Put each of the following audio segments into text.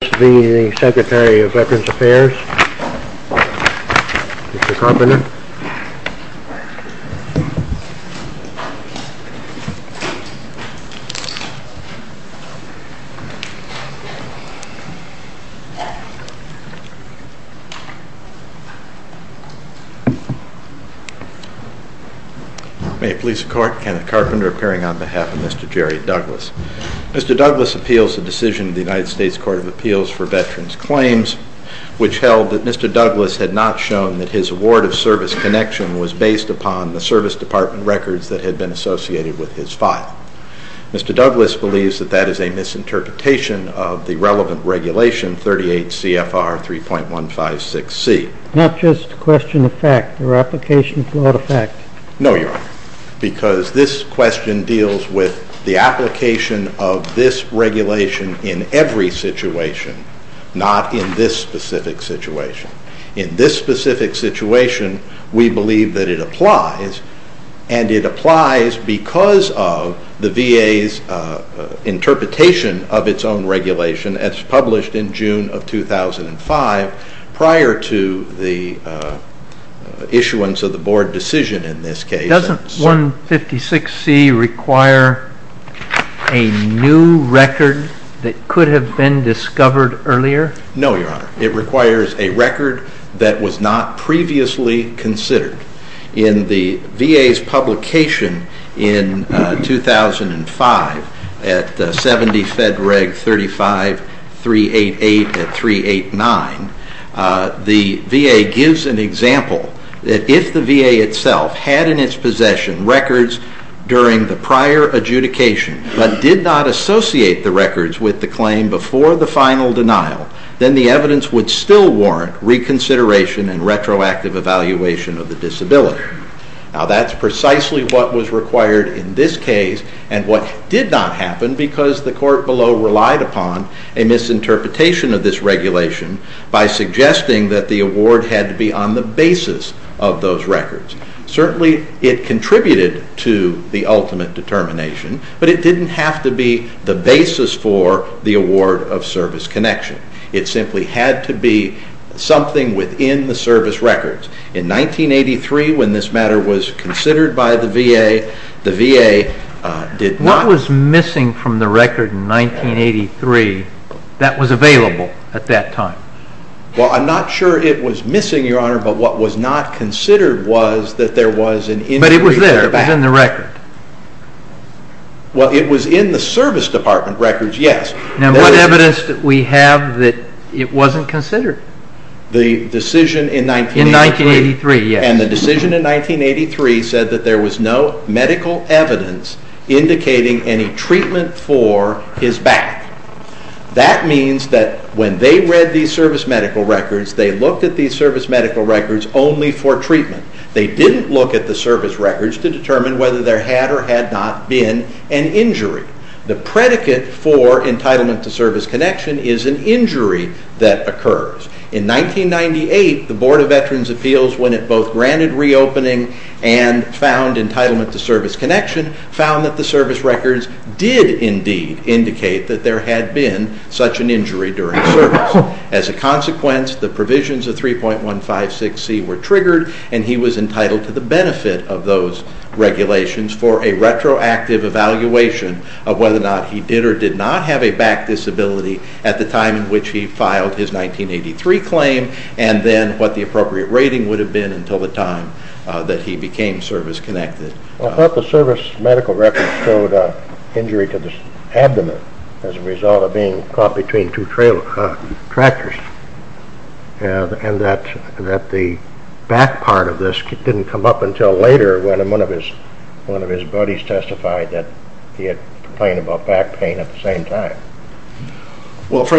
This is the Secretary of Veterans Affairs, Mr. Carpenter. May it please the Court, Kenneth Carpenter appearing on behalf of Mr. Jerry Douglas. Mr. Douglas appeals the decision of the United States Court of Appeals for Veterans Claims, which held that Mr. Douglas had not shown that his award of service connection was based upon the service department records that had been associated with his file. Mr. Douglas believes that that is a misinterpretation of the relevant regulation 38 CFR 3.156C. Not just question of fact or application of flawed effect? No, Your Honor, because this question deals with the application of this regulation in every situation, not in this specific situation. In this specific situation, we believe that it applies, and it applies because of the VA's interpretation of its own regulation as published in June of 2005 prior to the issuance of the Board decision in this case. Doesn't 156C require a new record that could have been discovered earlier? No, Your Honor, it requires a record that was not previously considered. In the VA's publication in 2005 at 70 Fed Reg 35 388 and 389, the VA gives an example that if the VA itself had in its possession records during the prior adjudication but did not associate the records with the claim before the final denial, then the evidence would still warrant reconsideration and retroactive evaluation of the disability. Now that's precisely what was required in this case and what did not happen because the court below relied upon a misinterpretation of this regulation by suggesting that the award had to be on the basis of those records. Certainly, it contributed to the ultimate determination, but it didn't have to be the basis for the award of service connection. It simply had to be something within the service records. In 1983, when this matter was considered by the VA, the VA did not… What was missing from the record in 1983 that was available at that time? Well, I'm not sure it was missing, Your Honor, but what was not considered was that there was an injury to their back. But it was there. It was in the record. Well, it was in the service department records, yes. Now, what evidence did we have that it wasn't considered? The decision in 1983. In 1983, yes. And the decision in 1983 said that there was no medical evidence indicating any treatment for his back. That means that when they read these service medical records, they looked at these service medical records only for treatment. They didn't look at the service records to determine whether there had or had not been an injury. The predicate for entitlement to service connection is an injury that occurs. In 1998, the Board of Veterans' Appeals, when it both granted reopening and found entitlement to service connection, found that the service records did indeed indicate that there had been such an injury during service. As a consequence, the provisions of 3.156C were triggered, and he was entitled to the benefit of those regulations for a retroactive evaluation of whether or not he did or did not have a back disability at the time in which he filed his 1983 claim, and then what the appropriate rating would have been until the time that he became service connected. I thought the service medical records showed an injury to the abdomen as a result of being caught between two tractors, and that the back part of this didn't come up until later when one of his buddies testified that he had complained about back pain at the same time. Of course,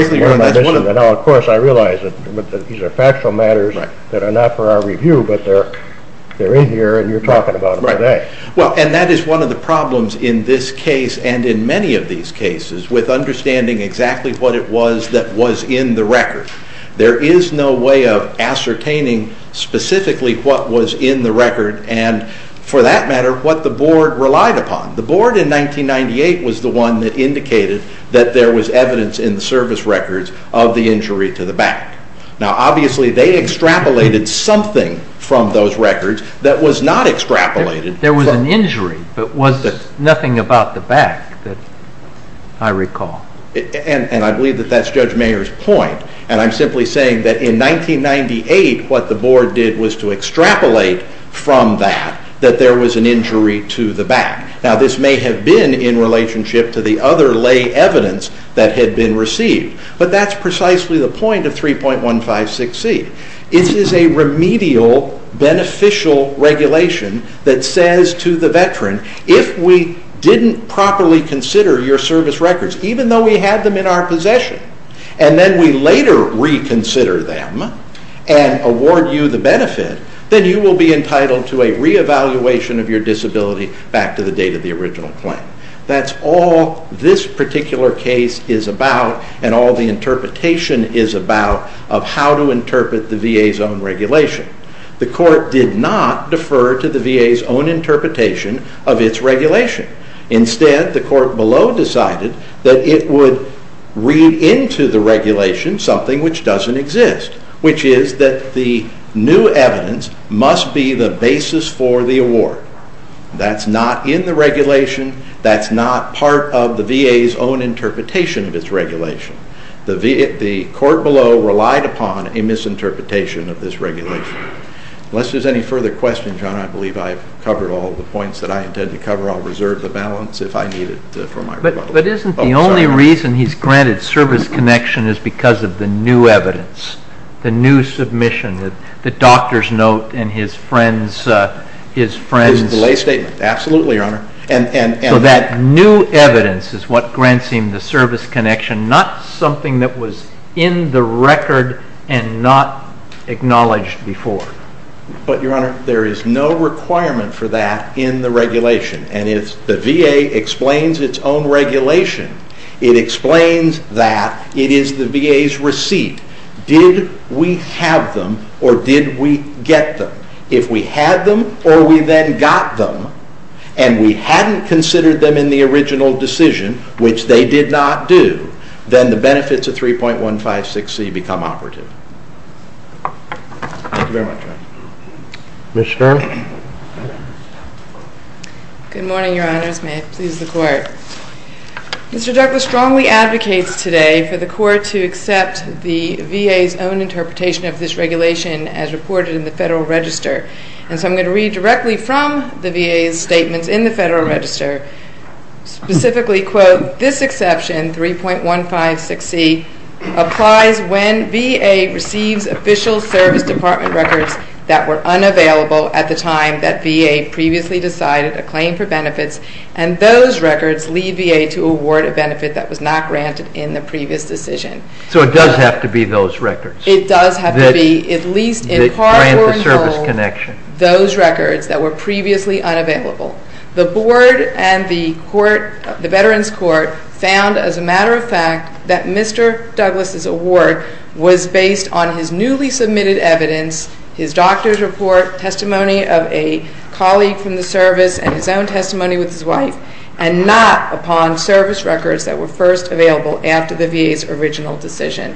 I realize that these are factual matters that are not for our review, but they're in here and you're talking about them today. Well, and that is one of the problems in this case and in many of these cases, with understanding exactly what it was that was in the record. There is no way of ascertaining specifically what was in the record and, for that matter, what the Board relied upon. The Board in 1998 was the one that indicated that there was evidence in the service records of the injury to the back. Now, obviously, they extrapolated something from those records that was not extrapolated. There was an injury, but it was nothing about the back that I recall. And I believe that that's Judge Mayer's point, and I'm simply saying that in 1998 what the Board did was to extrapolate from that that there was an injury to the back. Now, this may have been in relationship to the other lay evidence that had been received, but that's precisely the point of 3.156C. This is a remedial, beneficial regulation that says to the veteran, if we didn't properly consider your service records, even though we had them in our possession, and then we later reconsider them and award you the benefit, then you will be entitled to a reevaluation of your disability back to the date of the original claim. That's all this particular case is about and all the interpretation is about of how to interpret the VA's own regulation. The Court did not defer to the VA's own interpretation of its regulation. Instead, the Court below decided that it would read into the regulation something which doesn't exist, which is that the new evidence must be the basis for the award. That's not in the regulation. That's not part of the VA's own interpretation of its regulation. The Court below relied upon a misinterpretation of this regulation. Unless there's any further questions, John, I believe I've covered all the points that I intend to cover. I'll reserve the balance if I need it for my rebuttal. But isn't the only reason he's granted service connection is because of the new evidence, the new submission, the doctor's note and his friend's... His delay statement, absolutely, Your Honor. So that new evidence is what grants him the service connection, not something that was in the record and not acknowledged before. But, Your Honor, there is no requirement for that in the regulation. And if the VA explains its own regulation, it explains that it is the VA's receipt. Did we have them or did we get them? If we had them or we then got them and we hadn't considered them in the original decision, which they did not do, then the benefits of 3.156C become operative. Thank you very much, Your Honor. Ms. Stern? Good morning, Your Honors. May it please the Court. Mr. Douglas strongly advocates today for the Court to accept the VA's own interpretation of this regulation as reported in the Federal Register. And so I'm going to read directly from the VA's statements in the Federal Register, specifically, quote, This exception, 3.156C, applies when VA receives official service department records that were unavailable at the time that VA previously decided a claim for benefits, and those records leave VA to award a benefit that was not granted in the previous decision. So it does have to be those records? It does have to be, at least in part or in whole, those records that were previously unavailable. The Board and the Veterans Court found, as a matter of fact, that Mr. Douglas' award was based on his newly submitted evidence, his doctor's report, testimony of a colleague from the service, and his own testimony with his wife, and not upon service records that were first available after the VA's original decision.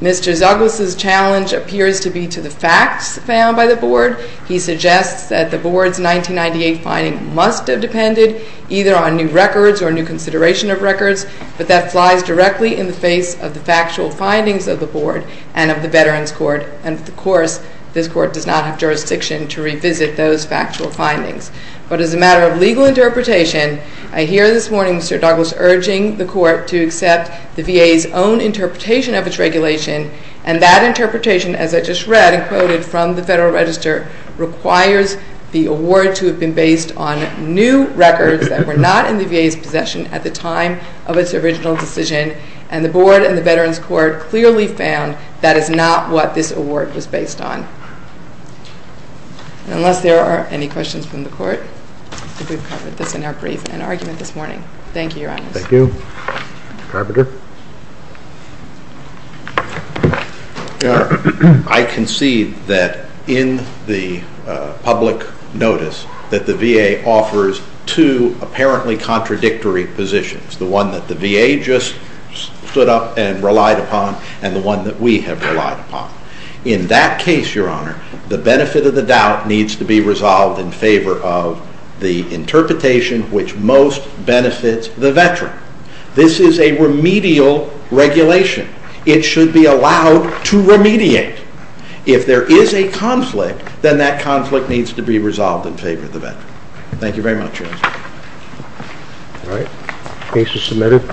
Mr. Douglas' challenge appears to be to the facts found by the Board. He suggests that the Board's 1998 finding must have depended either on new records or new consideration of records, but that flies directly in the face of the factual findings of the Board and of the Veterans Court, and, of course, this Court does not have jurisdiction to revisit those factual findings. But as a matter of legal interpretation, I hear this morning Mr. Douglas urging the Court to accept the VA's own interpretation of its regulation, and that interpretation, as I just read and quoted from the Federal Register, requires the award to have been based on new records that were not in the VA's possession at the time of its original decision, and the Board and the Veterans Court clearly found that is not what this award was based on. Unless there are any questions from the Court, we've covered this in our brief and argument this morning. Thank you, Your Honors. Thank you. Mr. Carpenter. I concede that in the public notice that the VA offers two apparently contradictory positions, the one that the VA just stood up and relied upon and the one that we have relied upon. In that case, Your Honor, the benefit of the doubt needs to be resolved in favor of the interpretation which most benefits the Veteran. This is a remedial regulation. It should be allowed to remediate. If there is a conflict, then that conflict needs to be resolved in favor of the Veteran. Thank you very much, Your Honor. All right. Case is submitted.